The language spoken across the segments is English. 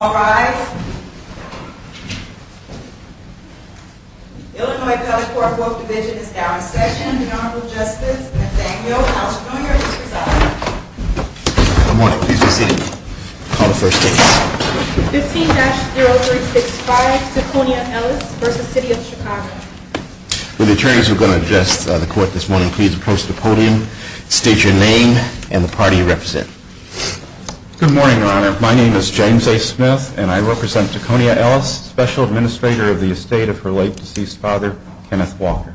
All rise. Illinois Color Court Book Division is now in session. The Honorable Justice Nathaniel Alciconia is presiding. Good morning. Please be seated. Call the first case. 15-0365, Alciconia Ellis v. City of Chicago. When the attorneys are going to address the court this morning, please approach the podium, state your name, and the party you represent. Good morning, Your Honor. My name is James A. Smith, and I represent Alciconia Ellis, special administrator of the estate of her late deceased father, Kenneth Walker.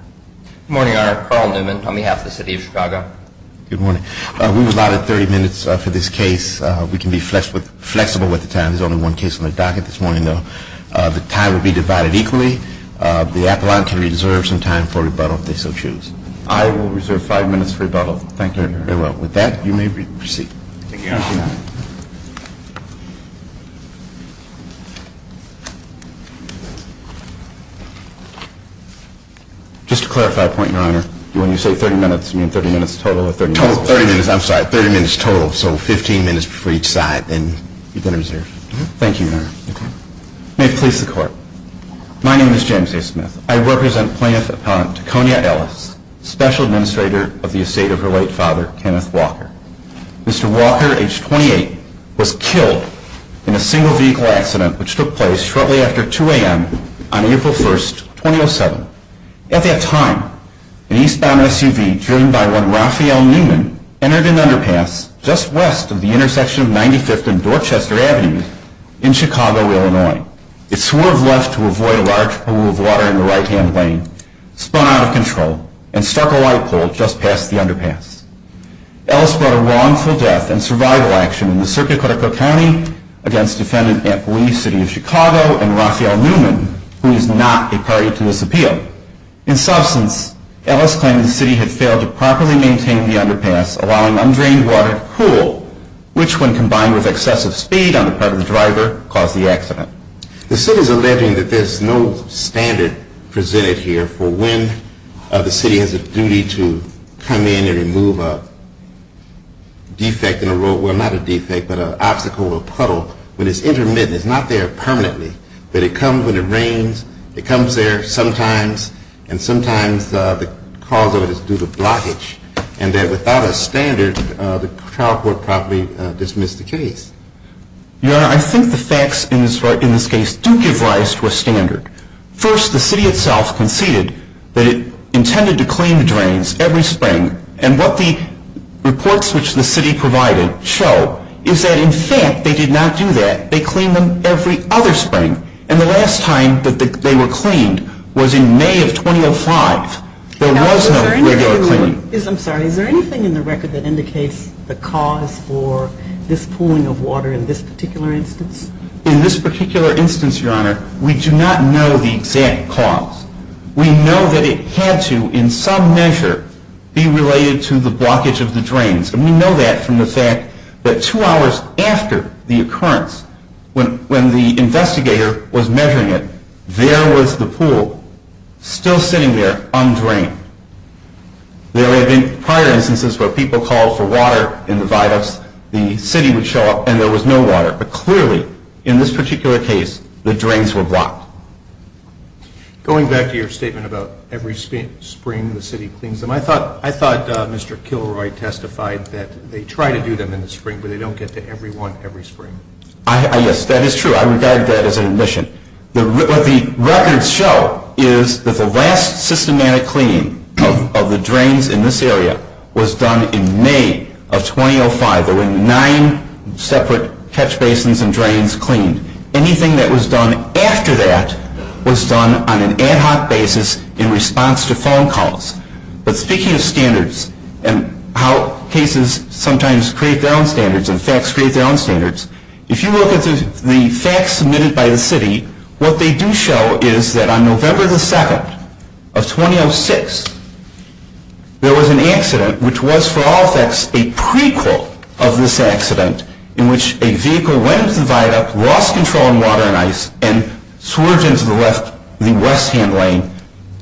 Good morning, Your Honor. Carl Newman on behalf of the City of Chicago. Good morning. We were allotted 30 minutes for this case. We can be flexible with the time. There's only one case on the docket this morning, though. The time will be divided equally. The appellant can reserve some time for rebuttal if they so choose. I will reserve five minutes for rebuttal. Thank you, Your Honor. I will. With that, you may proceed. Thank you, Your Honor. Just to clarify a point, Your Honor, when you say 30 minutes, do you mean 30 minutes total or 30 minutes total? Total. 30 minutes. I'm sorry. 30 minutes total. So 15 minutes for each side, and you can reserve. Thank you, Your Honor. Okay. May it please the Court. My name is James A. Smith. I represent plaintiff appellant Alciconia Ellis, special administrator of the estate of her late father, Kenneth Walker. Mr. Walker, age 28, was killed in a single vehicle accident which took place shortly after 2 a.m. on April 1st, 2007. At that time, an eastbound SUV driven by one Raphael Newman entered an underpass just west of the intersection of 95th and Dorchester Avenue in Chicago, Illinois. It swerved left to avoid a large pool of water in the right-hand lane, spun out of control, and struck a light pole just past the underpass. Ellis brought a wrongful death and survival action in the circuit of Cotico County against defendant Ant Lee, city of Chicago, and Raphael Newman, who is not a party to this appeal. In substance, Ellis claimed the city had failed to properly maintain the underpass, allowing undrained water to cool, which, when combined with excessive speed on the part of the driver, caused the accident. The city is alleging that there is no standard presented here for when the city has a duty to come in and remove a defect in a roadway, not a defect, but an obstacle or a puddle. In addition to that, they clean them every other spring, and the last time that they were cleaned was in May of 2005. There was no regular cleaning. Is there anything in the record that indicates the cause for this pooling of water in this particular instance? In this particular instance, Your Honor, we do not know the exact cause. We know that it had to, in some measure, be related to the blockage of the drains. And we know that from the fact that two hours after the occurrence, when the investigator was measuring it, there was the pool still sitting there undrained. There had been prior instances where people called for water in the viaducts, the city would show up, and there was no water. But clearly, in this particular case, the drains were blocked. Going back to your statement about every spring the city cleans them, I thought Mr. Kilroy testified that they try to do them in the spring, but they don't get to every one every spring. Yes, that is true. I regard that as an admission. What the records show is that the last systematic cleaning of the drains in this area was done in May of 2005. There were nine separate catch basins and drains cleaned. Anything that was done after that was done on an ad hoc basis in response to phone calls. But speaking of standards and how cases sometimes create their own standards and facts create their own standards, if you look at the facts submitted by the city, what they do show is that on November 2, 2006, there was an accident, which was for all facts a prequel of this accident, in which a vehicle went into the viaduct, lost control on water and ice, and swerved into the west-hand lane,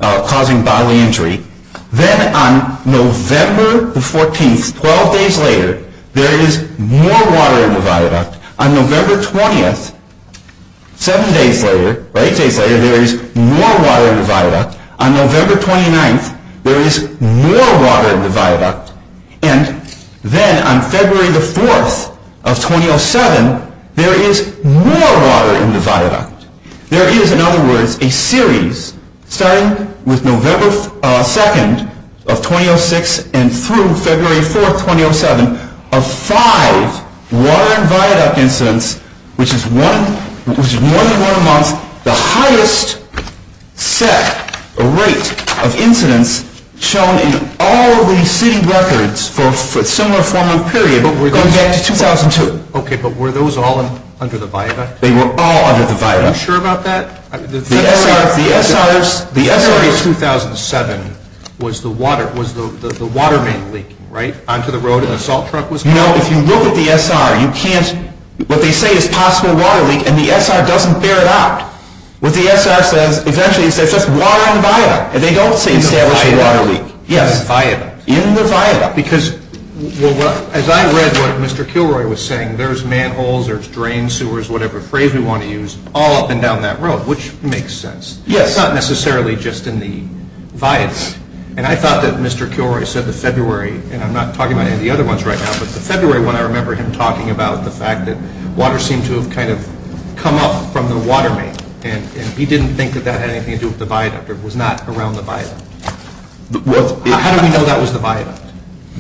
causing bodily injury. Then on November 14, 12 days later, there is more water in the viaduct. On November 20, 7 days later, 8 days later, there is more water in the viaduct. On November 29, there is more water in the viaduct. And then on February 4, 2007, there is more water in the viaduct. There is, in other words, a series, starting with November 2, 2006, and through February 4, 2007, of five water-in-viaduct incidents, which is more than one a month, the highest set rate of incidents shown in all of the city records for a similar form of period, going back to 2002. Okay, but were those all under the viaduct? They were all under the viaduct. Are you sure about that? The SRA 2007 was the water main leak, right? Onto the road, and the salt truck was gone. You know, if you look at the SR, you can't, what they say is possible water leak, and the SR doesn't bear it out. What the SR says, essentially, is there's just water in the viaduct. And they don't say established water leak. In the viaduct. Yes. In the viaduct. Because, as I read what Mr. Kilroy was saying, there's manholes, there's drains, sewers, whatever phrase we want to use, all up and down that road, which makes sense. Yes. It's not necessarily just in the viaduct. And I thought that Mr. Kilroy said the February, and I'm not talking about any of the other ones right now, but the February one, I remember him talking about the fact that water seemed to have kind of come up from the water main. And he didn't think that that had anything to do with the viaduct, or was not around the viaduct. How do we know that was the viaduct?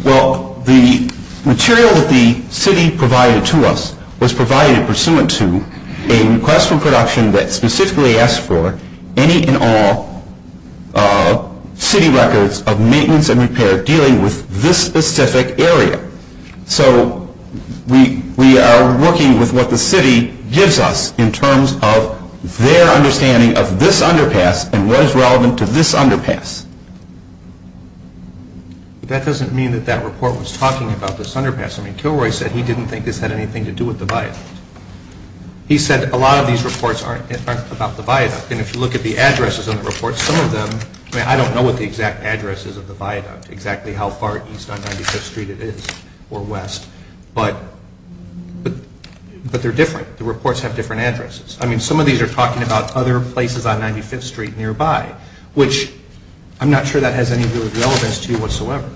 Well, the material that the city provided to us was provided pursuant to a request for production that specifically asked for any and all city records of maintenance and repair dealing with this specific area. So we are working with what the city gives us in terms of their understanding of this underpass and what is relevant to this underpass. That doesn't mean that that report was talking about this underpass. I mean, Kilroy said he didn't think this had anything to do with the viaduct. He said a lot of these reports aren't about the viaduct. And if you look at the addresses on the report, some of them, I mean, I don't know what the exact address is of the viaduct, exactly how far east on 95th Street it is, or west. But they're different. The reports have different addresses. I mean, some of these are talking about other places on 95th Street nearby, which I'm not sure that has any real relevance to you whatsoever.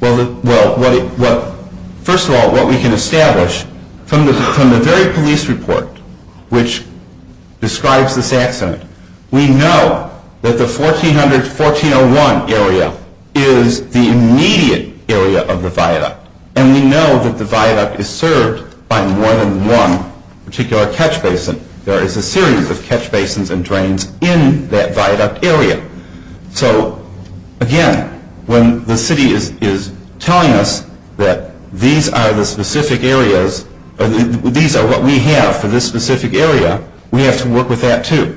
Well, first of all, what we can establish from the very police report which describes this accident, we know that the 1400-1401 area is the immediate area of the viaduct. And we know that the viaduct is served by more than one particular catch basin. There is a series of catch basins and drains in that viaduct area. So, again, when the city is telling us that these are the specific areas, these are what we have for this specific area, we have to work with that too.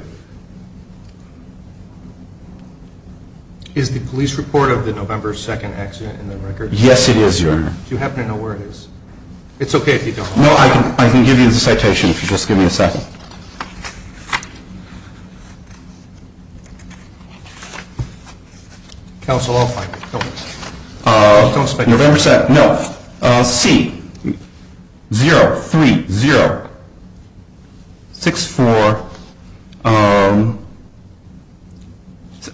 Is the police report of the November 2nd accident in the record? Yes, it is, Your Honor. Do you happen to know where it is? It's okay if you don't. No, I can give you the citation if you just give me a second. Counsel, I'll find it. November 2nd. No. C-0-3-0-6-4.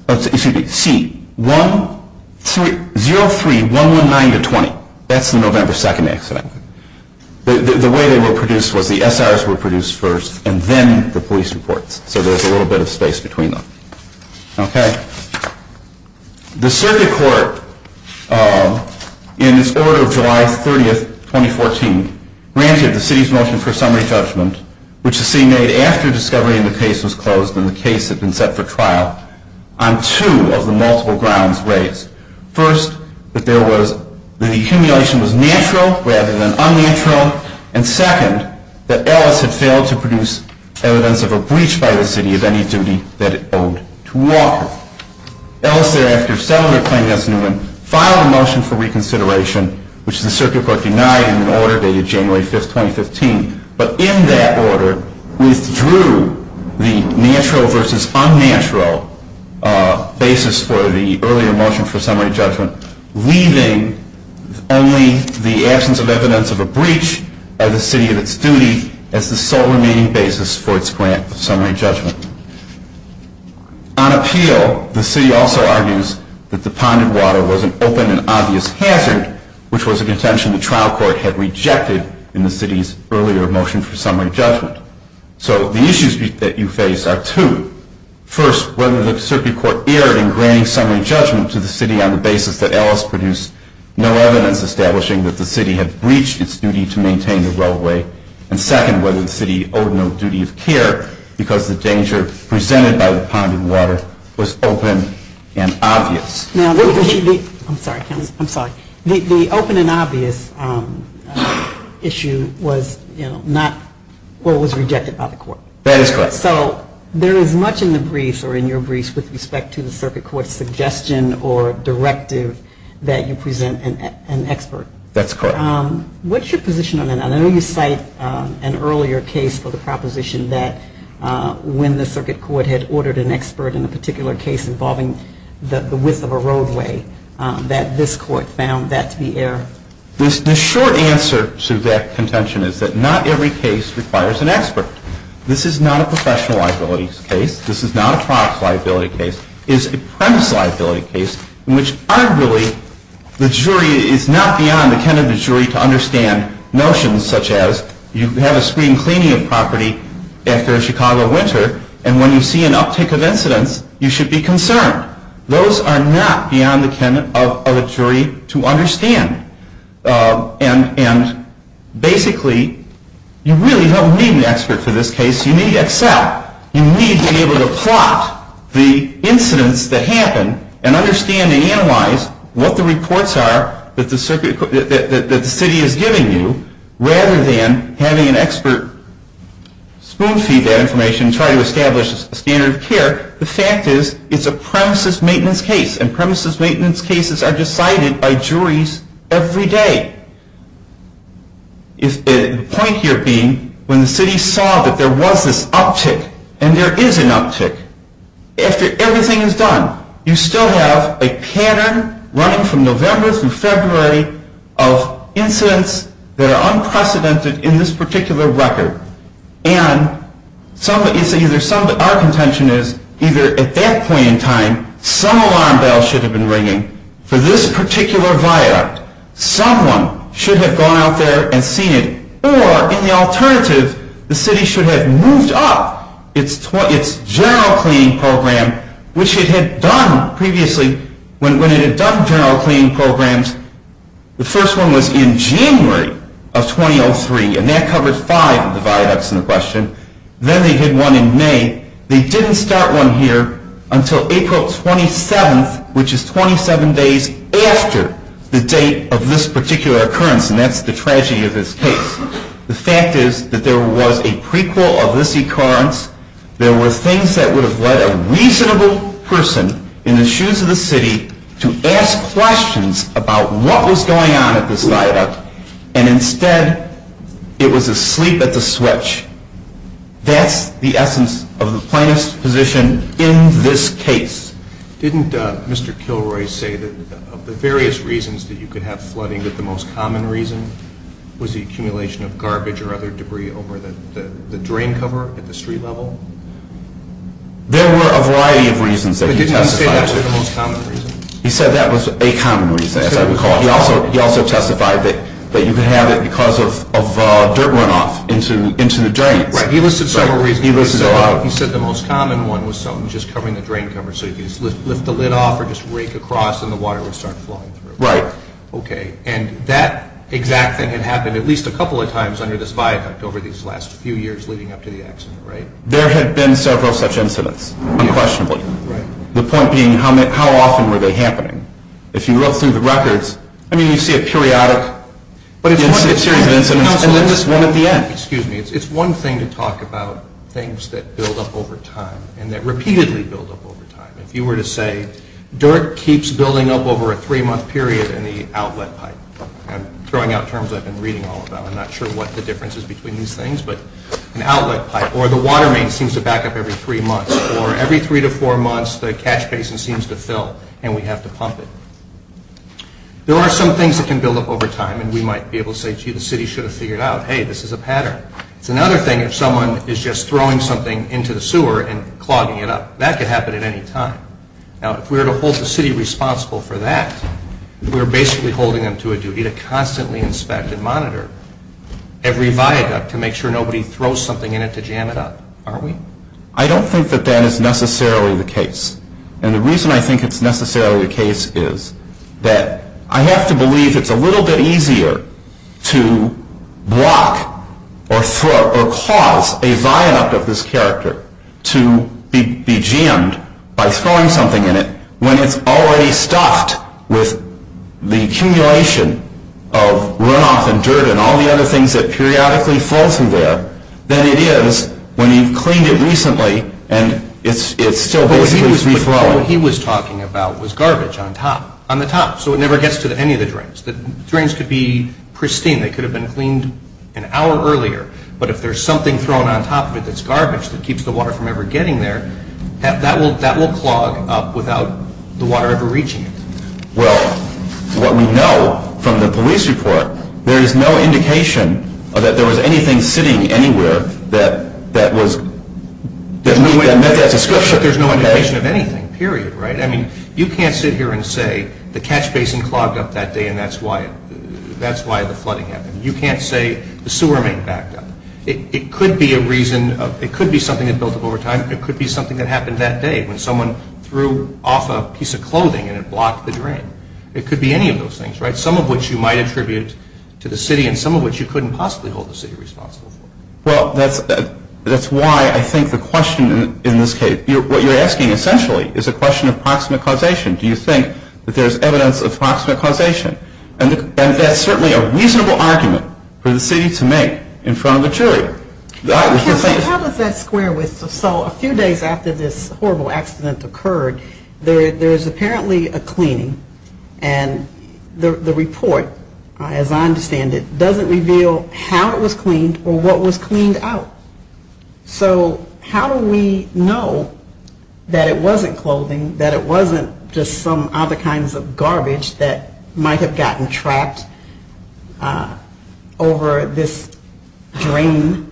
Excuse me. C-0-3-1-1-9-20. No, that's the November 2nd accident. The way they were produced was the SRs were produced first and then the police reports. So there's a little bit of space between them. Okay. The circuit court, in its order of July 30th, 2014, granted the city's motion for summary judgment, which the city made after discovery in the case was closed and the case had been set for trial, on two of the multiple grounds raised. First, that the accumulation was natural rather than unnatural, and second, that Ellis had failed to produce evidence of a breach by the city of any duty that it owed to Walker. Ellis thereafter, settling her claim as Newman, filed a motion for reconsideration, which the circuit court denied in an order dated January 5th, 2015, but in that order withdrew the natural versus unnatural basis for the earlier motion for summary judgment, leaving only the absence of evidence of a breach by the city of its duty as the sole remaining basis for its grant of summary judgment. On appeal, the city also argues that the ponded water was an open and obvious hazard, which was a contention the trial court had rejected in the city's earlier motion for summary judgment. So the issues that you face are two. First, whether the circuit court erred in granting summary judgment to the city on the basis that Ellis produced no evidence establishing that the city had breached its duty to maintain the railway, and second, whether the city owed no duty of care because the danger presented by the ponded water was open and obvious. I'm sorry, counsel. I'm sorry. The open and obvious issue was not what was rejected by the court. That is correct. So there is much in the briefs or in your briefs with respect to the circuit court's suggestion or directive that you present an expert. That's correct. What's your position on that? I know you cite an earlier case for the proposition that when the circuit court had ordered an expert in a particular case involving the width of a roadway, that this court found that to be error. The short answer to that contention is that not every case requires an expert. This is not a professional liability case. This is not a product liability case. It is a premise liability case in which arguably the jury is not beyond the candidate jury to understand notions such as you have a screen cleaning of property after a Chicago winter, and when you see an uptick of incidents, you should be concerned. Those are not beyond the candidate of a jury to understand. And basically, you really don't need an expert for this case. You need Excel. You need to be able to plot the incidents that happen and understand and analyze what the reports are that the city is giving you rather than having an expert spoon feed that information and try to establish a standard of care. The fact is it's a premises maintenance case, and premises maintenance cases are decided by juries every day. The point here being when the city saw that there was this uptick, and there is an uptick, after everything is done, you still have a pattern running from November through February of incidents that are unprecedented in this particular record. And our contention is either at that point in time, some alarm bell should have been ringing for this particular viaduct. Someone should have gone out there and seen it. Or, in the alternative, the city should have moved up its general cleaning program, which it had done previously. When it had done general cleaning programs, the first one was in January of 2003, and that covered five of the viaducts in the question. Then they did one in May. They didn't start one here until April 27th, which is 27 days after the date of this particular occurrence, and that's the tragedy of this case. The fact is that there was a prequel of this occurrence. There were things that would have led a reasonable person in the shoes of the city to ask questions about what was going on at this viaduct, and instead it was a sleep at the switch. That's the essence of the plaintiff's position in this case. Didn't Mr. Kilroy say that of the various reasons that you could have flooding, that the most common reason was the accumulation of garbage or other debris over the drain cover at the street level? There were a variety of reasons that he testified to. But didn't he say that was the most common reason? He said that was a common reason, as I recall. He also testified that you could have it because of dirt runoff into the drain. Right, he listed several reasons. He listed a lot. He said the most common one was something just covering the drain cover, so you could just lift the lid off or just rake across and the water would start flowing through. Right. Okay, and that exact thing had happened at least a couple of times under this viaduct over these last few years leading up to the accident, right? There had been several such incidents, unquestionably. Right. The point being, how often were they happening? If you look through the records, I mean, you see a periodic series of incidents and then this one at the end. Excuse me. It's one thing to talk about things that build up over time and that repeatedly build up over time. If you were to say dirt keeps building up over a three-month period in the outlet pipe. I'm throwing out terms I've been reading all about. I'm not sure what the difference is between these things. But an outlet pipe or the water main seems to back up every three months or every three to four months the catch basin seems to fill and we have to pump it. There are some things that can build up over time and we might be able to say, gee, the city should have figured out, hey, this is a pattern. It's another thing if someone is just throwing something into the sewer and clogging it up. That could happen at any time. Now, if we were to hold the city responsible for that, we're basically holding them to a duty to constantly inspect and monitor every viaduct to make sure nobody throws something in it to jam it up, aren't we? I don't think that that is necessarily the case. And the reason I think it's necessarily the case is that I have to believe it's a little bit easier to block or cause a viaduct of this character to be jammed by throwing something in it when it's already stuffed with the accumulation of runoff and dirt and all the other things that periodically flow through there than it is when you've cleaned it recently and it's still basically reflowing. What he was talking about was garbage on top, on the top, so it never gets to any of the drains. The drains could be pristine. They could have been cleaned an hour earlier. But if there's something thrown on top of it that's garbage that keeps the water from ever getting there, that will clog up without the water ever reaching it. Well, what we know from the police report, there is no indication that there was anything sitting anywhere that met that description. There's no indication of anything, period, right? I mean, you can't sit here and say the catch basin clogged up that day and that's why the flooding happened. You can't say the sewer main backed up. It could be something that built up over time. It could be something that happened that day when someone threw off a piece of clothing and it blocked the drain. It could be any of those things, right? Some of which you might attribute to the city and some of which you couldn't possibly hold the city responsible for. Well, that's why I think the question in this case, what you're asking essentially is a question of proximate causation. Do you think that there's evidence of proximate causation? And that's certainly a reasonable argument for the city to make in front of a jury. How does that square with, so a few days after this horrible accident occurred, there is apparently a cleaning and the report, as I understand it, doesn't reveal how it was cleaned or what was cleaned out. So how do we know that it wasn't clothing, that it wasn't just some other kinds of garbage that might have gotten trapped over this drain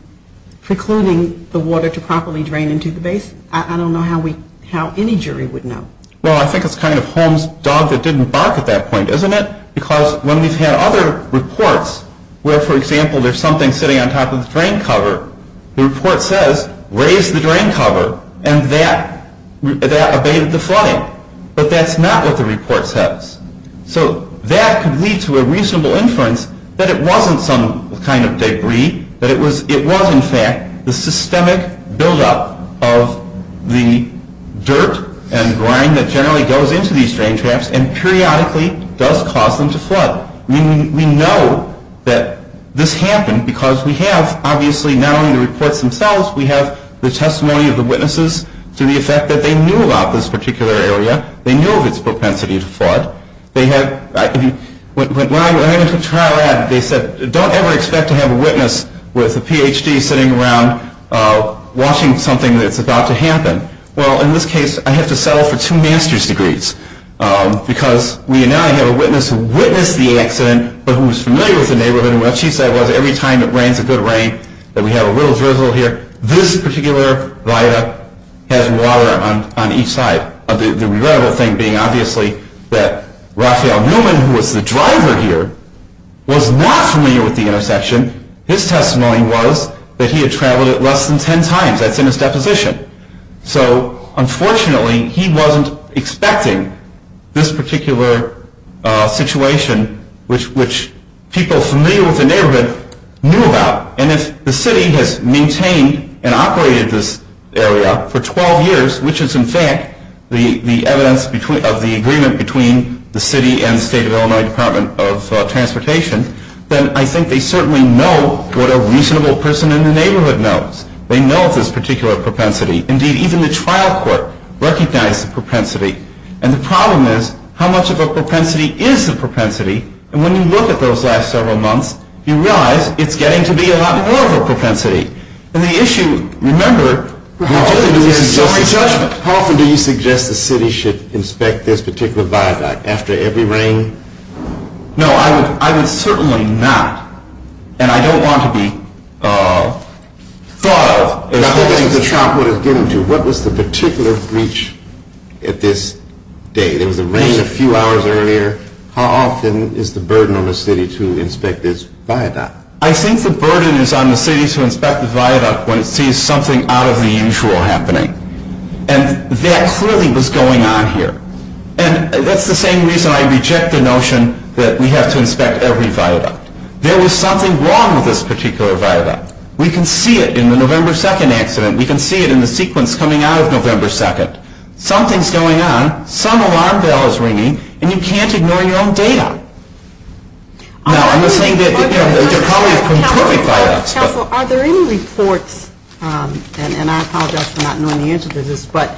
precluding the water to properly drain into the basin? I don't know how any jury would know. Well, I think it's kind of Holmes' dog that didn't bark at that point, isn't it? Because when we've had other reports where, for example, there's something sitting on top of the drain cover, the report says, raise the drain cover, and that abated the flooding. But that's not what the report says. So that could lead to a reasonable inference that it wasn't some kind of debris, that it was in fact the systemic buildup of the dirt and grime that generally goes into these drain traps and periodically does cause them to flood. We know that this happened because we have, obviously, not only the reports themselves, we have the testimony of the witnesses to the effect that they knew about this particular area. They knew of its propensity to flood. When I went to the trial lab, they said, don't ever expect to have a witness with a Ph.D. sitting around watching something that's about to happen. Well, in this case, I have to settle for two master's degrees because we now have a witness who witnessed the accident but who was familiar with the neighborhood and what she said was every time it rains a good rain, that we have a little drizzle here, this particular viaduct has water on each side. The regrettable thing being, obviously, that Raphael Newman, who was the driver here, was not familiar with the intersection. His testimony was that he had traveled it less than ten times. That's in his deposition. So, unfortunately, he wasn't expecting this particular situation, which people familiar with the neighborhood knew about. And if the city has maintained and operated this area for 12 years, which is, in fact, the evidence of the agreement between the city and the State of Illinois Department of Transportation, then I think they certainly know what a reasonable person in the neighborhood knows. They know of this particular propensity. Indeed, even the trial court recognized the propensity. And the problem is, how much of a propensity is the propensity? And when you look at those last several months, you realize it's getting to be a lot more of a propensity. And the issue, remember... How often do you suggest the city should inspect this particular viaduct after every rain? No, I would certainly not. And I don't want to be thought of as holding the trial court is getting to. What was the particular breach at this date? There was a rain a few hours earlier. How often is the burden on the city to inspect this viaduct? I think the burden is on the city to inspect the viaduct when it sees something out of the usual happening. And that clearly was going on here. And that's the same reason I reject the notion that we have to inspect every viaduct. There was something wrong with this particular viaduct. We can see it in the November 2nd accident. We can see it in the sequence coming out of November 2nd. Something's going on. Some alarm bell is ringing. And you can't ignore your own data. Now, I'm not saying that... Council, are there any reports, and I apologize for not knowing the answer to this, but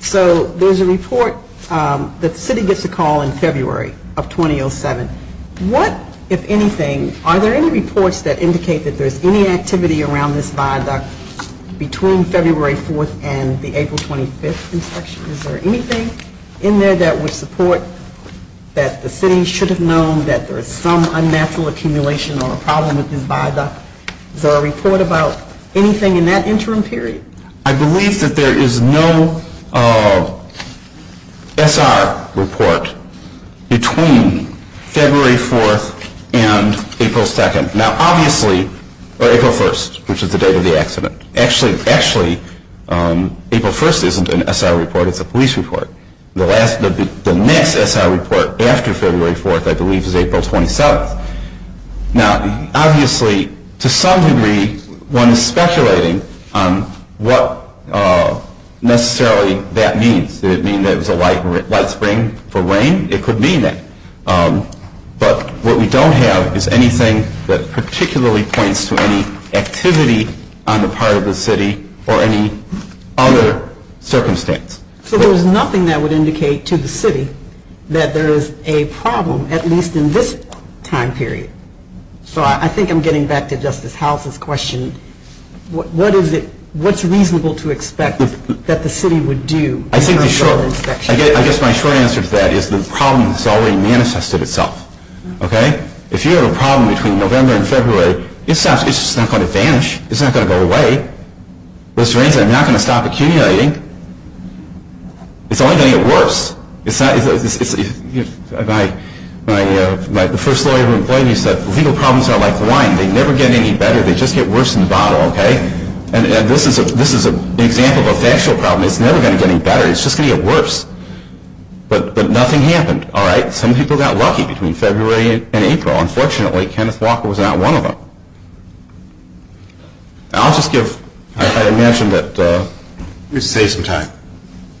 so there's a report that the city gets a call in February of 2007. What, if anything, are there any reports that indicate that there's any activity around this viaduct between February 4th and the April 25th inspection? Is there anything in there that would support that the city should have known that there is some unnatural accumulation or a problem with this viaduct? Is there a report about anything in that interim period? I believe that there is no SR report between February 4th and April 2nd. Now, obviously, or April 1st, which is the date of the accident. Actually, April 1st isn't an SR report. It's a police report. The next SR report after February 4th, I believe, is April 27th. Now, obviously, to some degree, one is speculating on what necessarily that means. Did it mean that it was a light spring for rain? It could mean that. But what we don't have is anything that particularly points to any activity on the part of the city or any other circumstance. So there's nothing that would indicate to the city that there is a problem, at least in this time period. So I think I'm getting back to Justice House's question. What is it? What's reasonable to expect that the city would do? I think the short answer to that is the problem has already manifested itself. If you have a problem between November and February, it's not going to vanish. It's not going to go away. Those drains are not going to stop accumulating. It's only going to get worse. The first lawyer who employed me said, legal problems are like wine. They never get any better. They just get worse in the bottle. And this is an example of a factual problem. It's never going to get any better. It's just going to get worse. But nothing happened. Some people got lucky between February and April. Unfortunately, Kenneth Walker was not one of them. I'll just give – I imagine that – Let me save some time.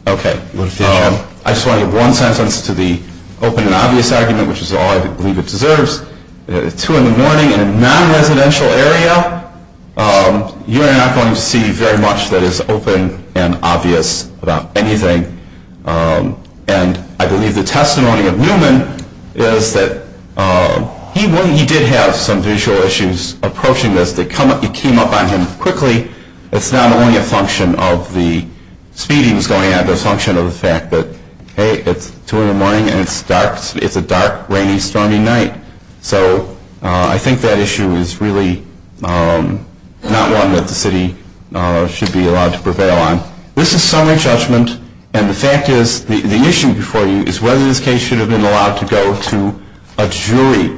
Okay. I just want to give one sentence to the open and obvious argument, which is all I believe it deserves. It's 2 in the morning in a non-residential area. You're not going to see very much that is open and obvious about anything. And I believe the testimony of Newman is that he did have some visual issues approaching this. It came up on him quickly. It's not only a function of the speed he was going at, but a function of the fact that, hey, it's 2 in the morning and it's dark. It's a dark, rainy, stormy night. So I think that issue is really not one that the city should be allowed to prevail on. Now, this is summary judgment, and the fact is – the issue before you is whether this case should have been allowed to go to a jury.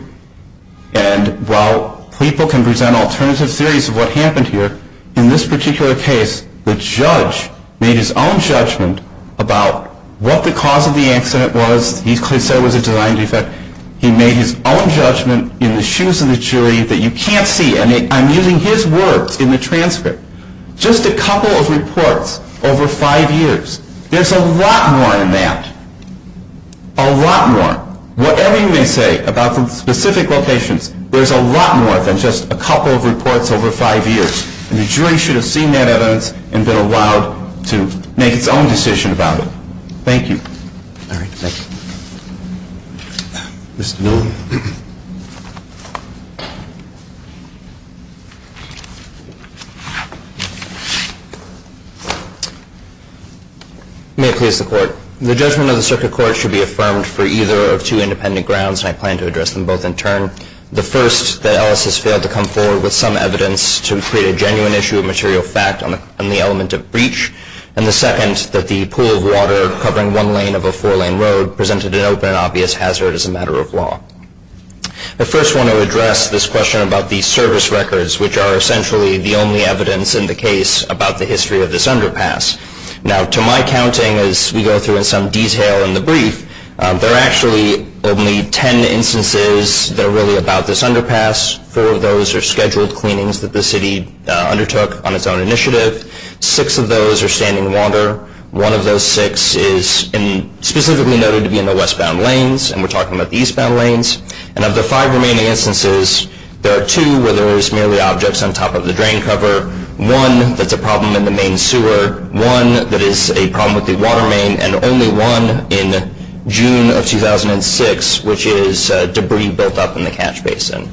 And while people can present alternative theories of what happened here, in this particular case, the judge made his own judgment about what the cause of the accident was. He said it was a design defect. He made his own judgment in the shoes of the jury that you can't see. And I'm using his words in the transcript. Just a couple of reports over five years. There's a lot more than that. A lot more. Whatever you may say about the specific locations, there's a lot more than just a couple of reports over five years. And the jury should have seen that evidence and been allowed to make its own decision about it. Thank you. All right. Thank you. Mr. Nolan. May it please the Court. The judgment of the Circuit Court should be affirmed for either of two independent grounds, and I plan to address them both in turn. The first, that Ellis has failed to come forward with some evidence to create a genuine issue of material fact on the element of breach. And the second, that the pool of water covering one lane of a four-lane road presented an open and obvious hazard as a matter of law. I first want to address this question about the service records, which are essentially the only evidence in the case about the history of this underpass. Now, to my counting, as we go through in some detail in the brief, there are actually only ten instances that are really about this underpass. Four of those are scheduled cleanings that the city undertook on its own initiative. Six of those are standing water. One of those six is specifically noted to be in the westbound lanes, and we're talking about the eastbound lanes. And of the five remaining instances, there are two where there is merely objects on top of the drain cover, one that's a problem in the main sewer, one that is a problem with the water main, and only one in June of 2006, which is debris built up in the catch basin.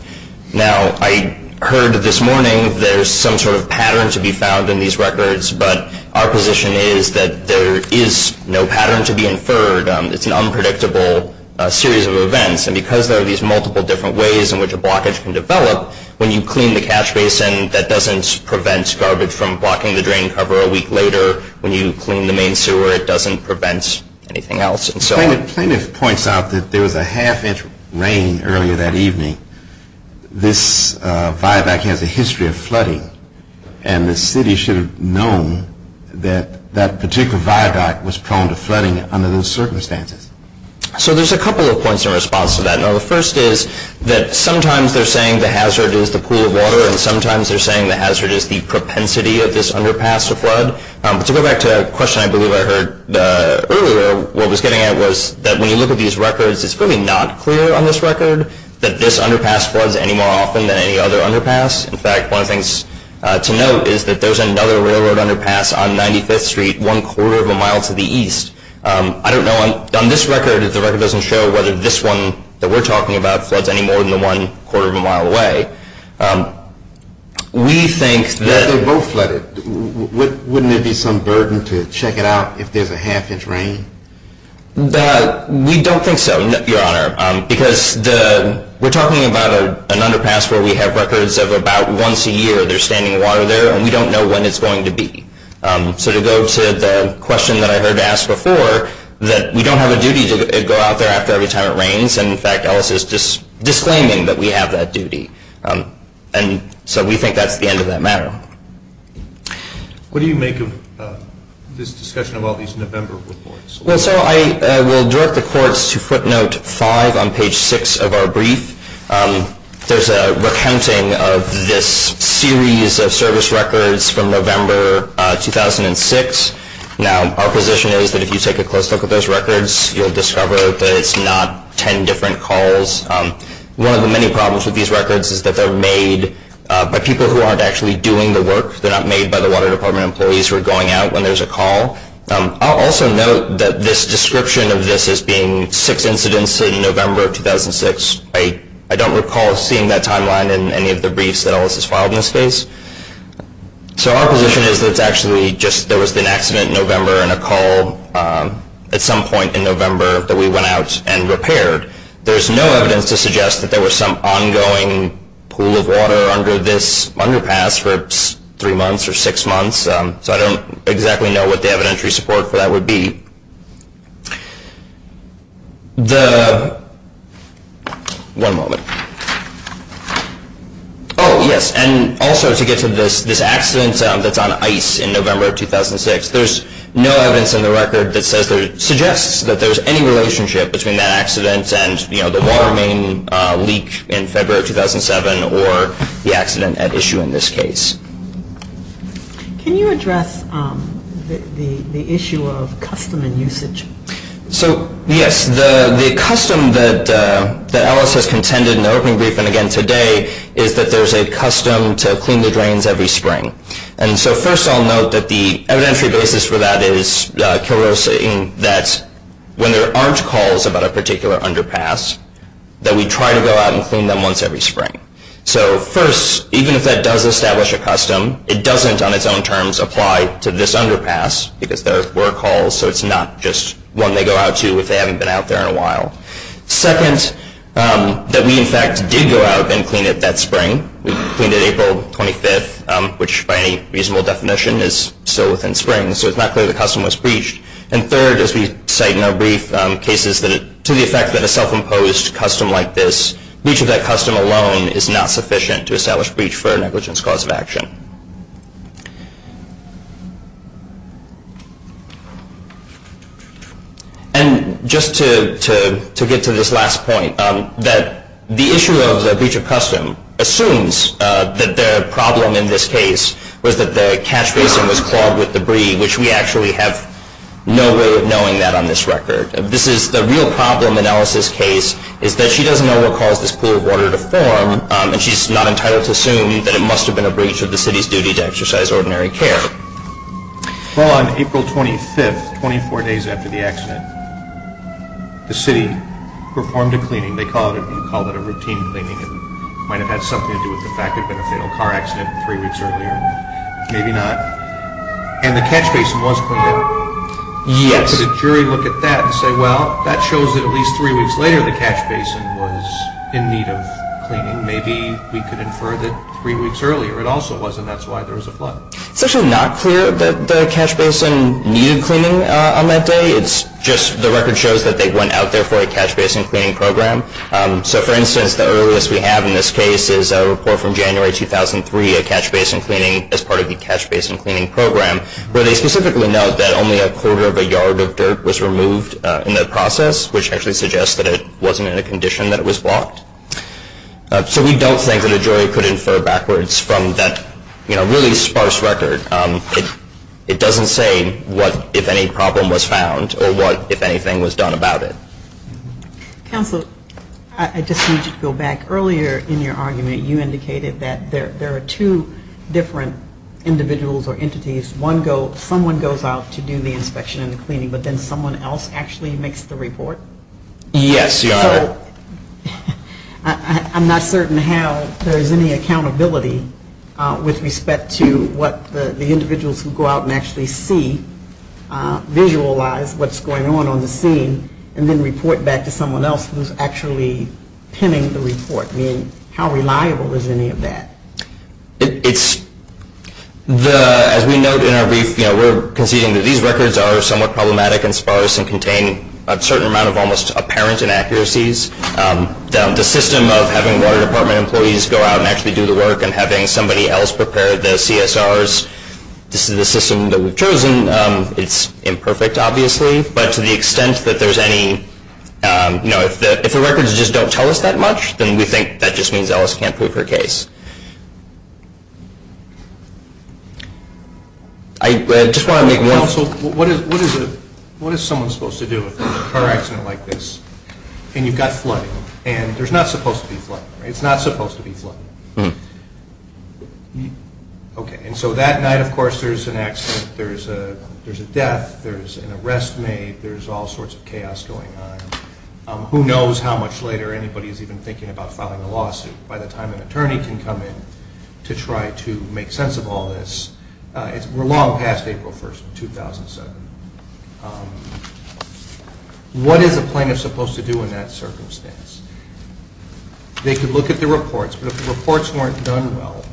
Now, I heard this morning there's some sort of pattern to be found in these records, but our position is that there is no pattern to be inferred. It's an unpredictable series of events. And because there are these multiple different ways in which a blockage can develop, when you clean the catch basin, that doesn't prevent garbage from blocking the drain cover a week later. When you clean the main sewer, it doesn't prevent anything else. Plaintiff points out that there was a half-inch rain earlier that evening. This viaduct has a history of flooding, and the city should have known that that particular viaduct was prone to flooding under those circumstances. So there's a couple of points in response to that. Now, the first is that sometimes they're saying the hazard is the pool of water, and sometimes they're saying the hazard is the propensity of this underpass to flood. But to go back to a question I believe I heard earlier, what I was getting at was that when you look at these records, it's probably not clear on this record that this underpass floods any more often than any other underpass. In fact, one of the things to note is that there's another railroad underpass on 95th Street, one quarter of a mile to the east. I don't know. On this record, if the record doesn't show whether this one that we're talking about floods any more than one quarter of a mile away, we think that... If they both flooded, wouldn't it be some burden to check it out if there's a half-inch rain? We don't think so, Your Honor, because we're talking about an underpass where we have records of about once a year there's standing water there, and we don't know when it's going to be. So to go to the question that I heard asked before, that we don't have a duty to go out there after every time it rains, and, in fact, Ellis is disclaiming that we have that duty. And so we think that's the end of that matter. What do you make of this discussion about these November reports? Well, sir, I will direct the courts to footnote 5 on page 6 of our brief. There's a recounting of this series of service records from November 2006. Now, our position is that if you take a close look at those records, you'll discover that it's not 10 different calls. One of the many problems with these records is that they're made by people who aren't actually doing the work. They're not made by the Water Department employees who are going out when there's a call. I'll also note that this description of this as being six incidents in November 2006, I don't recall seeing that timeline in any of the briefs that Ellis has filed in this case. So our position is that there was an accident in November and a call at some point in November that we went out and repaired. There's no evidence to suggest that there was some ongoing pool of water under this underpass for three months or six months, so I don't exactly know what the evidentiary support for that would be. One moment. Oh, yes, and also to get to this accident that's on ice in November 2006, there's no evidence in the record that suggests that there's any relationship between that accident and the water main leak in February 2007 or the accident at issue in this case. So, yes, the custom that Ellis has contended in the opening briefing again today is that there's a custom to clean the drains every spring. And so first I'll note that the evidentiary basis for that is that when there aren't calls about a particular underpass, that we try to go out and clean them once every spring. So first, even if that does establish a custom, it doesn't on its own terms apply to this underpass, because there were calls, so it's not just one they go out to if they haven't been out there in a while. Second, that we, in fact, did go out and clean it that spring. We cleaned it April 25th, which by any reasonable definition is still within spring, so it's not clear the custom was breached. And third, as we cite in our brief, cases to the effect that a self-imposed custom like this, breach of that custom alone is not sufficient to establish breach for a negligence cause of action. And just to get to this last point, that the issue of the breach of custom assumes that the problem in this case was that the catch basin was clogged with debris, which we actually have no way of knowing that on this record. The real problem in Ellis' case is that she doesn't know what caused this pool of water to form, and she's not entitled to assume that it must have been a breach of the city's duty to exercise ordinary care. Well, on April 25th, 24 days after the accident, the city performed a cleaning. They call it a routine cleaning. It might have had something to do with the fact there had been a fatal car accident three weeks earlier. Maybe not. And the catch basin was cleaned up. Yes. Why does a jury look at that and say, well, that shows that at least three weeks later, the catch basin was in need of cleaning. Maybe we could infer that three weeks earlier it also was, and that's why there was a flood. It's actually not clear that the catch basin needed cleaning on that day. It's just the record shows that they went out there for a catch basin cleaning program. So, for instance, the earliest we have in this case is a report from January 2003, a catch basin cleaning as part of the catch basin cleaning program, where they specifically note that only a quarter of a yard of dirt was removed in the process, which actually suggests that it wasn't in a condition that it was blocked. So we don't think that a jury could infer backwards from that really sparse record. It doesn't say what, if any, problem was found or what, if anything, was done about it. Counsel, I just need you to go back. Earlier in your argument, you indicated that there are two different individuals or entities. Someone goes out to do the inspection and the cleaning, but then someone else actually makes the report? Yes, Your Honor. I'm not certain how there is any accountability with respect to what the individuals who go out and actually see, visualize what's going on on the scene and then report back to someone else who's actually pinning the report. I mean, how reliable is any of that? As we note in our brief, we're conceding that these records are somewhat problematic and sparse and contain a certain amount of almost apparent inaccuracies. The system of having water department employees go out and actually do the work and having somebody else prepare the CSRs, this is the system that we've chosen. It's imperfect, obviously, but to the extent that there's any, you know, if the records just don't tell us that much, then we think that just means Ellis can't prove her case. I just want to make one... Counsel, what is someone supposed to do if there's a car accident like this and you've got flooding and there's not supposed to be flooding, right? It's not supposed to be flooding. Okay, and so that night, of course, there's an accident, there's a death, there's an arrest made, there's all sorts of chaos going on. Who knows how much later anybody is even thinking about filing a lawsuit. By the time an attorney can come in to try to make sense of all this, we're long past April 1st, 2007. What is a plaintiff supposed to do in that circumstance? They could look at the reports, but if the reports weren't done well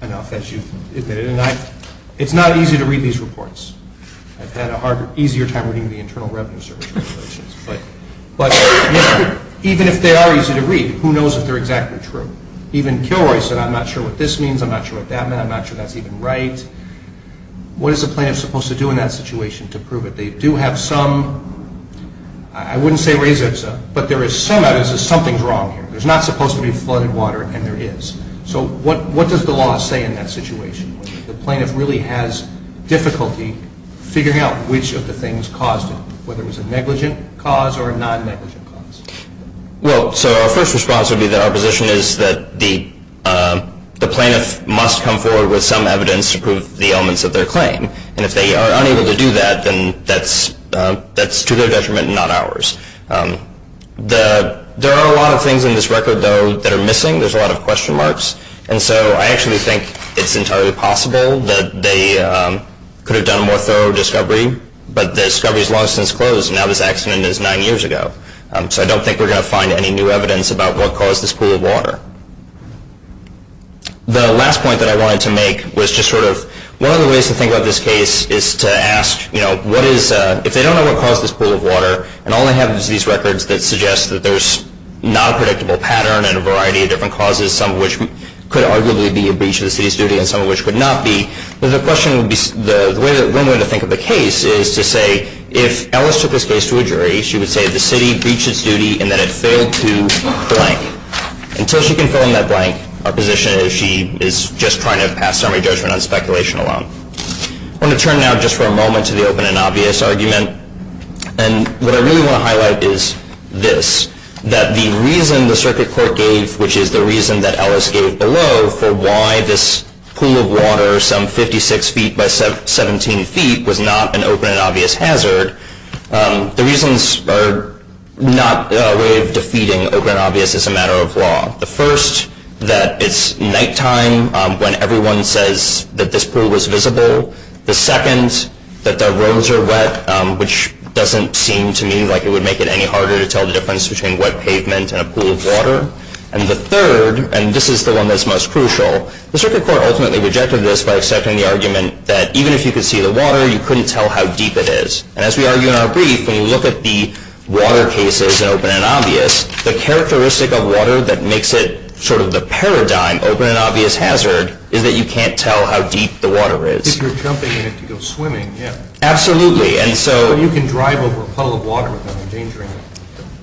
enough, as you've admitted, and it's not easy to read these reports. I've had an easier time reading the Internal Revenue Service regulations, but even if they are easy to read, who knows if they're exactly true. Even Kilroy said, I'm not sure what this means, I'm not sure what that meant, I'm not sure that's even right. What is a plaintiff supposed to do in that situation to prove it? They do have some, I wouldn't say res ipsa, but there is some evidence that something is wrong here. There's not supposed to be flooded water, and there is. So what does the law say in that situation? The plaintiff really has difficulty figuring out which of the things caused it, whether it was a negligent cause or a non-negligent cause. Well, so our first response would be that our position is that the plaintiff must come forward with some evidence to prove the elements of their claim, and if they are unable to do that, then that's to their detriment and not ours. There are a lot of things in this record, though, that are missing. There's a lot of question marks, and so I actually think it's entirely possible that they could have done a more thorough discovery, but the discovery is long since closed, and now this accident is nine years ago. So I don't think we're going to find any new evidence about what caused this pool of water. The last point that I wanted to make was just sort of one of the ways to think about this case is to ask, you know, if they don't know what caused this pool of water, and all they have is these records that suggest that there's not a predictable pattern and a variety of different causes, some of which could arguably be a breach of the city's duty and some of which could not be, then the question would be, the one way to think of the case is to say if Ellis took this case to a jury, she would say the city breached its duty and that it failed to blank. Until she can fill in that blank, our position is she is just trying to pass summary judgment on speculation alone. I'm going to turn now just for a moment to the open and obvious argument, and what I really want to highlight is this, that the reason the circuit court gave, which is the reason that Ellis gave below for why this pool of water, some 56 feet by 17 feet, was not an open and obvious hazard, the reasons are not a way of defeating open and obvious as a matter of law. The first, that it's nighttime when everyone says that this pool was visible. The second, that the roads are wet, which doesn't seem to me like it would make it any harder to tell the difference between wet pavement and a pool of water. And the third, and this is the one that's most crucial, the circuit court ultimately rejected this by accepting the argument that even if you could see the water, you couldn't tell how deep it is. And as we argue in our brief, when you look at the water cases in open and obvious, the characteristic of water that makes it sort of the paradigm open and obvious hazard is that you can't tell how deep the water is. If you're jumping in it to go swimming, yeah. Absolutely. But you can drive over a puddle of water without endangering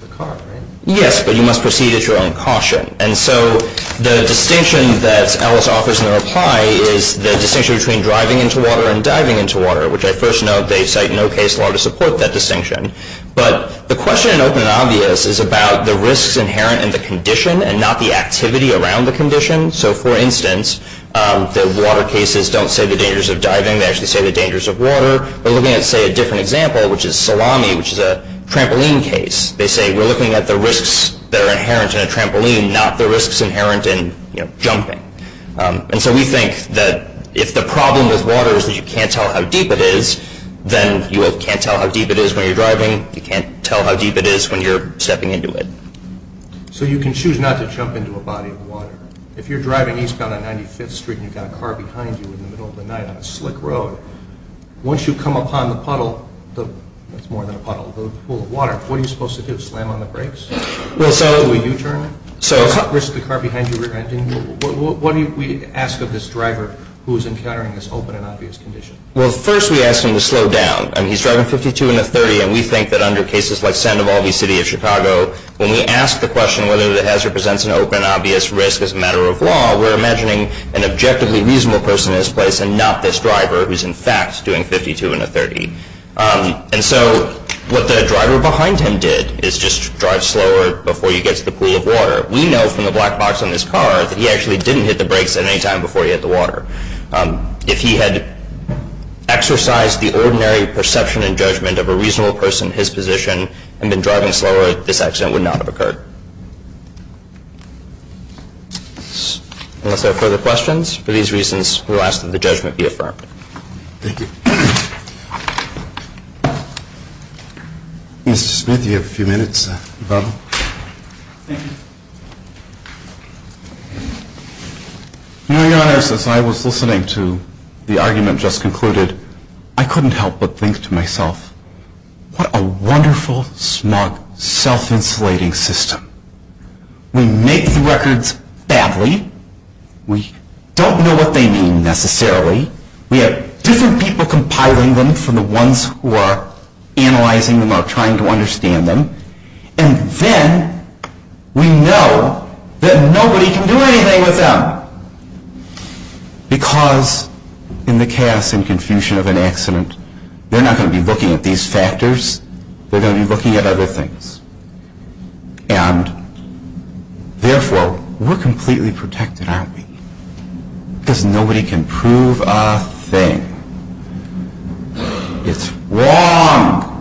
the car, right? Yes, but you must proceed at your own caution. And so the distinction that Ellis offers in the reply is the distinction between driving into water and diving into water, which I first note they cite no case law to support that distinction. But the question in open and obvious is about the risks inherent in the condition and not the activity around the condition. So, for instance, the water cases don't say the dangers of diving. They actually say the dangers of water. We're looking at, say, a different example, which is salami, which is a trampoline case. They say we're looking at the risks that are inherent in a trampoline, not the risks inherent in jumping. And so we think that if the problem with water is that you can't tell how deep it is, then you can't tell how deep it is when you're driving. You can't tell how deep it is when you're stepping into it. So you can choose not to jump into a body of water. If you're driving eastbound on 95th Street and you've got a car behind you in the middle of the night on a slick road, once you come upon the puddle, that's more than a puddle, the pool of water, what are you supposed to do, slam on the brakes? Do a U-turn? Risk the car behind you? What do we ask of this driver who is encountering this open and obvious condition? Well, first we ask him to slow down. I mean, he's driving 52 in a 30, and we think that under cases like Sandoval v. City of Chicago, when we ask the question whether the hazard presents an open and obvious risk as a matter of law, we're imagining an objectively reasonable person in this place and not this driver who's in fact doing 52 in a 30. And so what the driver behind him did is just drive slower before he gets to the pool of water. We know from the black box on this car that he actually didn't hit the brakes at any time before he hit the water. If he had exercised the ordinary perception and judgment of a reasonable person in his position and been driving slower, this accident would not have occurred. Unless there are further questions, for these reasons, we'll ask that the judgment be affirmed. Thank you. Mr. Smith, you have a few minutes. To be honest, as I was listening to the argument just concluded, I couldn't help but think to myself, what a wonderful, smart, self-insulating system. We make the records badly. We don't know what they mean necessarily. We have different people compiling them from the ones who are analyzing them or trying to understand them. And then we know that nobody can do anything with them. But because in the chaos and confusion of an accident, they're not going to be looking at these factors. They're going to be looking at other things. And therefore, we're completely protected, aren't we? Because nobody can prove a thing. It's wrong.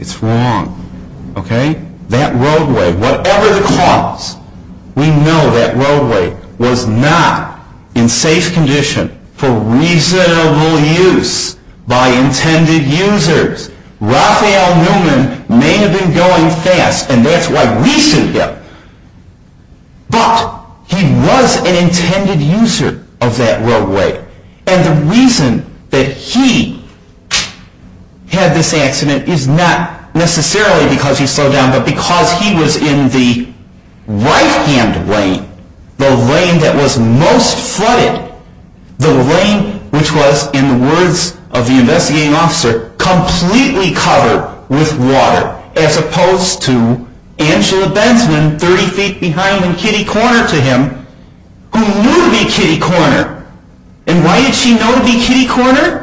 It's wrong. That roadway, whatever the cause, we know that roadway was not in safe condition for reasonable use by intended users. Raphael Newman may have been going fast, and that's why we sued him. But he was an intended user of that roadway. And the reason that he had this accident is not necessarily because he slowed down, but because he was in the right-hand lane, the lane that was most flooded, the lane which was, in the words of the investigating officer, completely covered with water, as opposed to Angela Bensman, 30 feet behind and kitty-corner to him, who knew to be kitty-corner. And why did she know to be kitty-corner?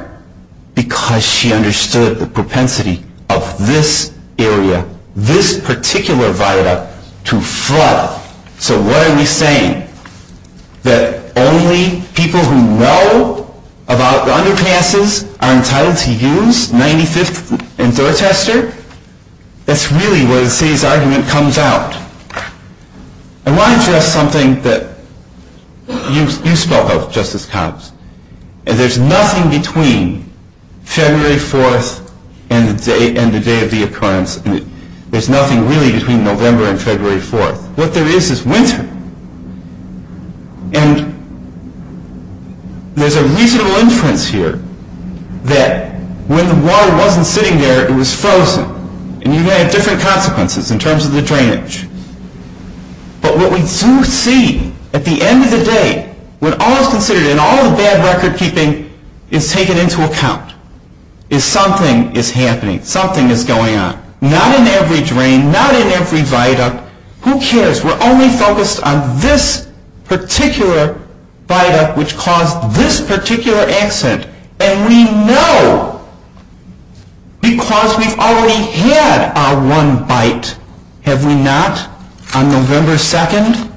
Because she understood the propensity of this area, this particular viaduct, to flood. So what are we saying? That only people who know about the underpasses are entitled to use 95th and Dorchester? That's really where the city's argument comes out. I want to address something that you spoke of, Justice Cox. And there's nothing between February 4th and the day of the occurrence. There's nothing really between November and February 4th. What there is is winter. And there's a reasonable inference here that when the water wasn't sitting there, it was frozen. And you had different consequences in terms of the drainage. But what we do see at the end of the day, when all is considered and all of the bad record-keeping is taken into account, is something is happening. Something is going on. Not in every drain, not in every viaduct. Who cares? We're only focused on this particular viaduct, which caused this particular accident. And we know, because we've already had our one bite, have we not, on November 2nd,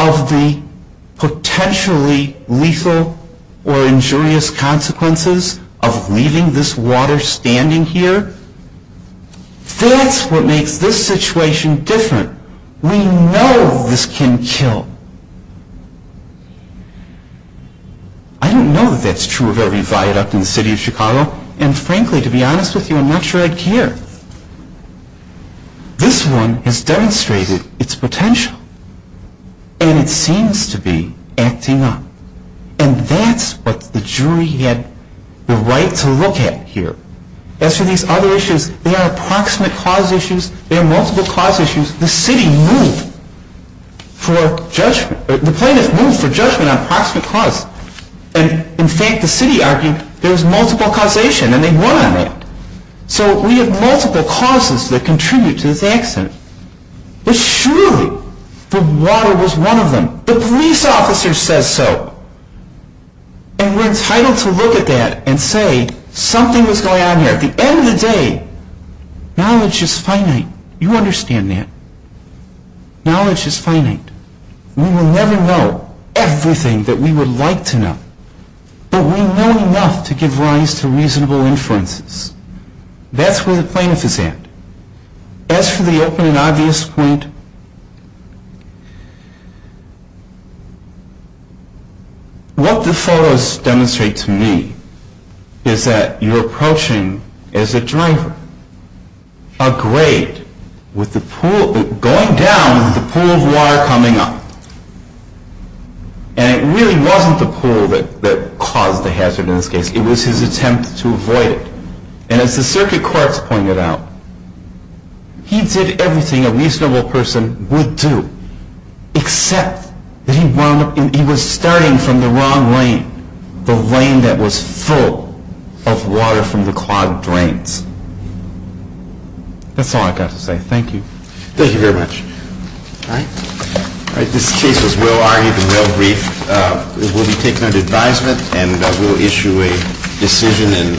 of the potentially lethal or injurious consequences of leaving this water standing here? That's what makes this situation different. We know this can kill. I don't know that that's true of every viaduct in the city of Chicago. And frankly, to be honest with you, I'm not sure I care. This one has demonstrated its potential. And it seems to be acting up. And that's what the jury had the right to look at here. As for these other issues, they are approximate cause issues. They are multiple cause issues. The city moved for judgment. The plaintiff moved for judgment on approximate cause. And, in fact, the city argued there was multiple causation, and they won on that. So we have multiple causes that contribute to this accident. But surely the water was one of them. The police officer says so. And we're entitled to look at that and say something was going on here. At the end of the day, knowledge is finite. You understand that. Knowledge is finite. We will never know everything that we would like to know. But we know enough to give rise to reasonable inferences. That's where the plaintiff is at. As for the open and obvious point, what the photos demonstrate to me is that you're approaching, as a driver, a grade with the pool going down and the pool of water coming up. And it really wasn't the pool that caused the hazard in this case. It was his attempt to avoid it. And as the circuit courts pointed out, he did everything a reasonable person would do, except that he was starting from the wrong lane, the lane that was full of water from the clogged drains. That's all I've got to say. Thank you. Thank you very much. All right. All right. This case was well-argued and well-briefed. It will be taken under advisement, and we'll issue a decision in due course. Thank you very much.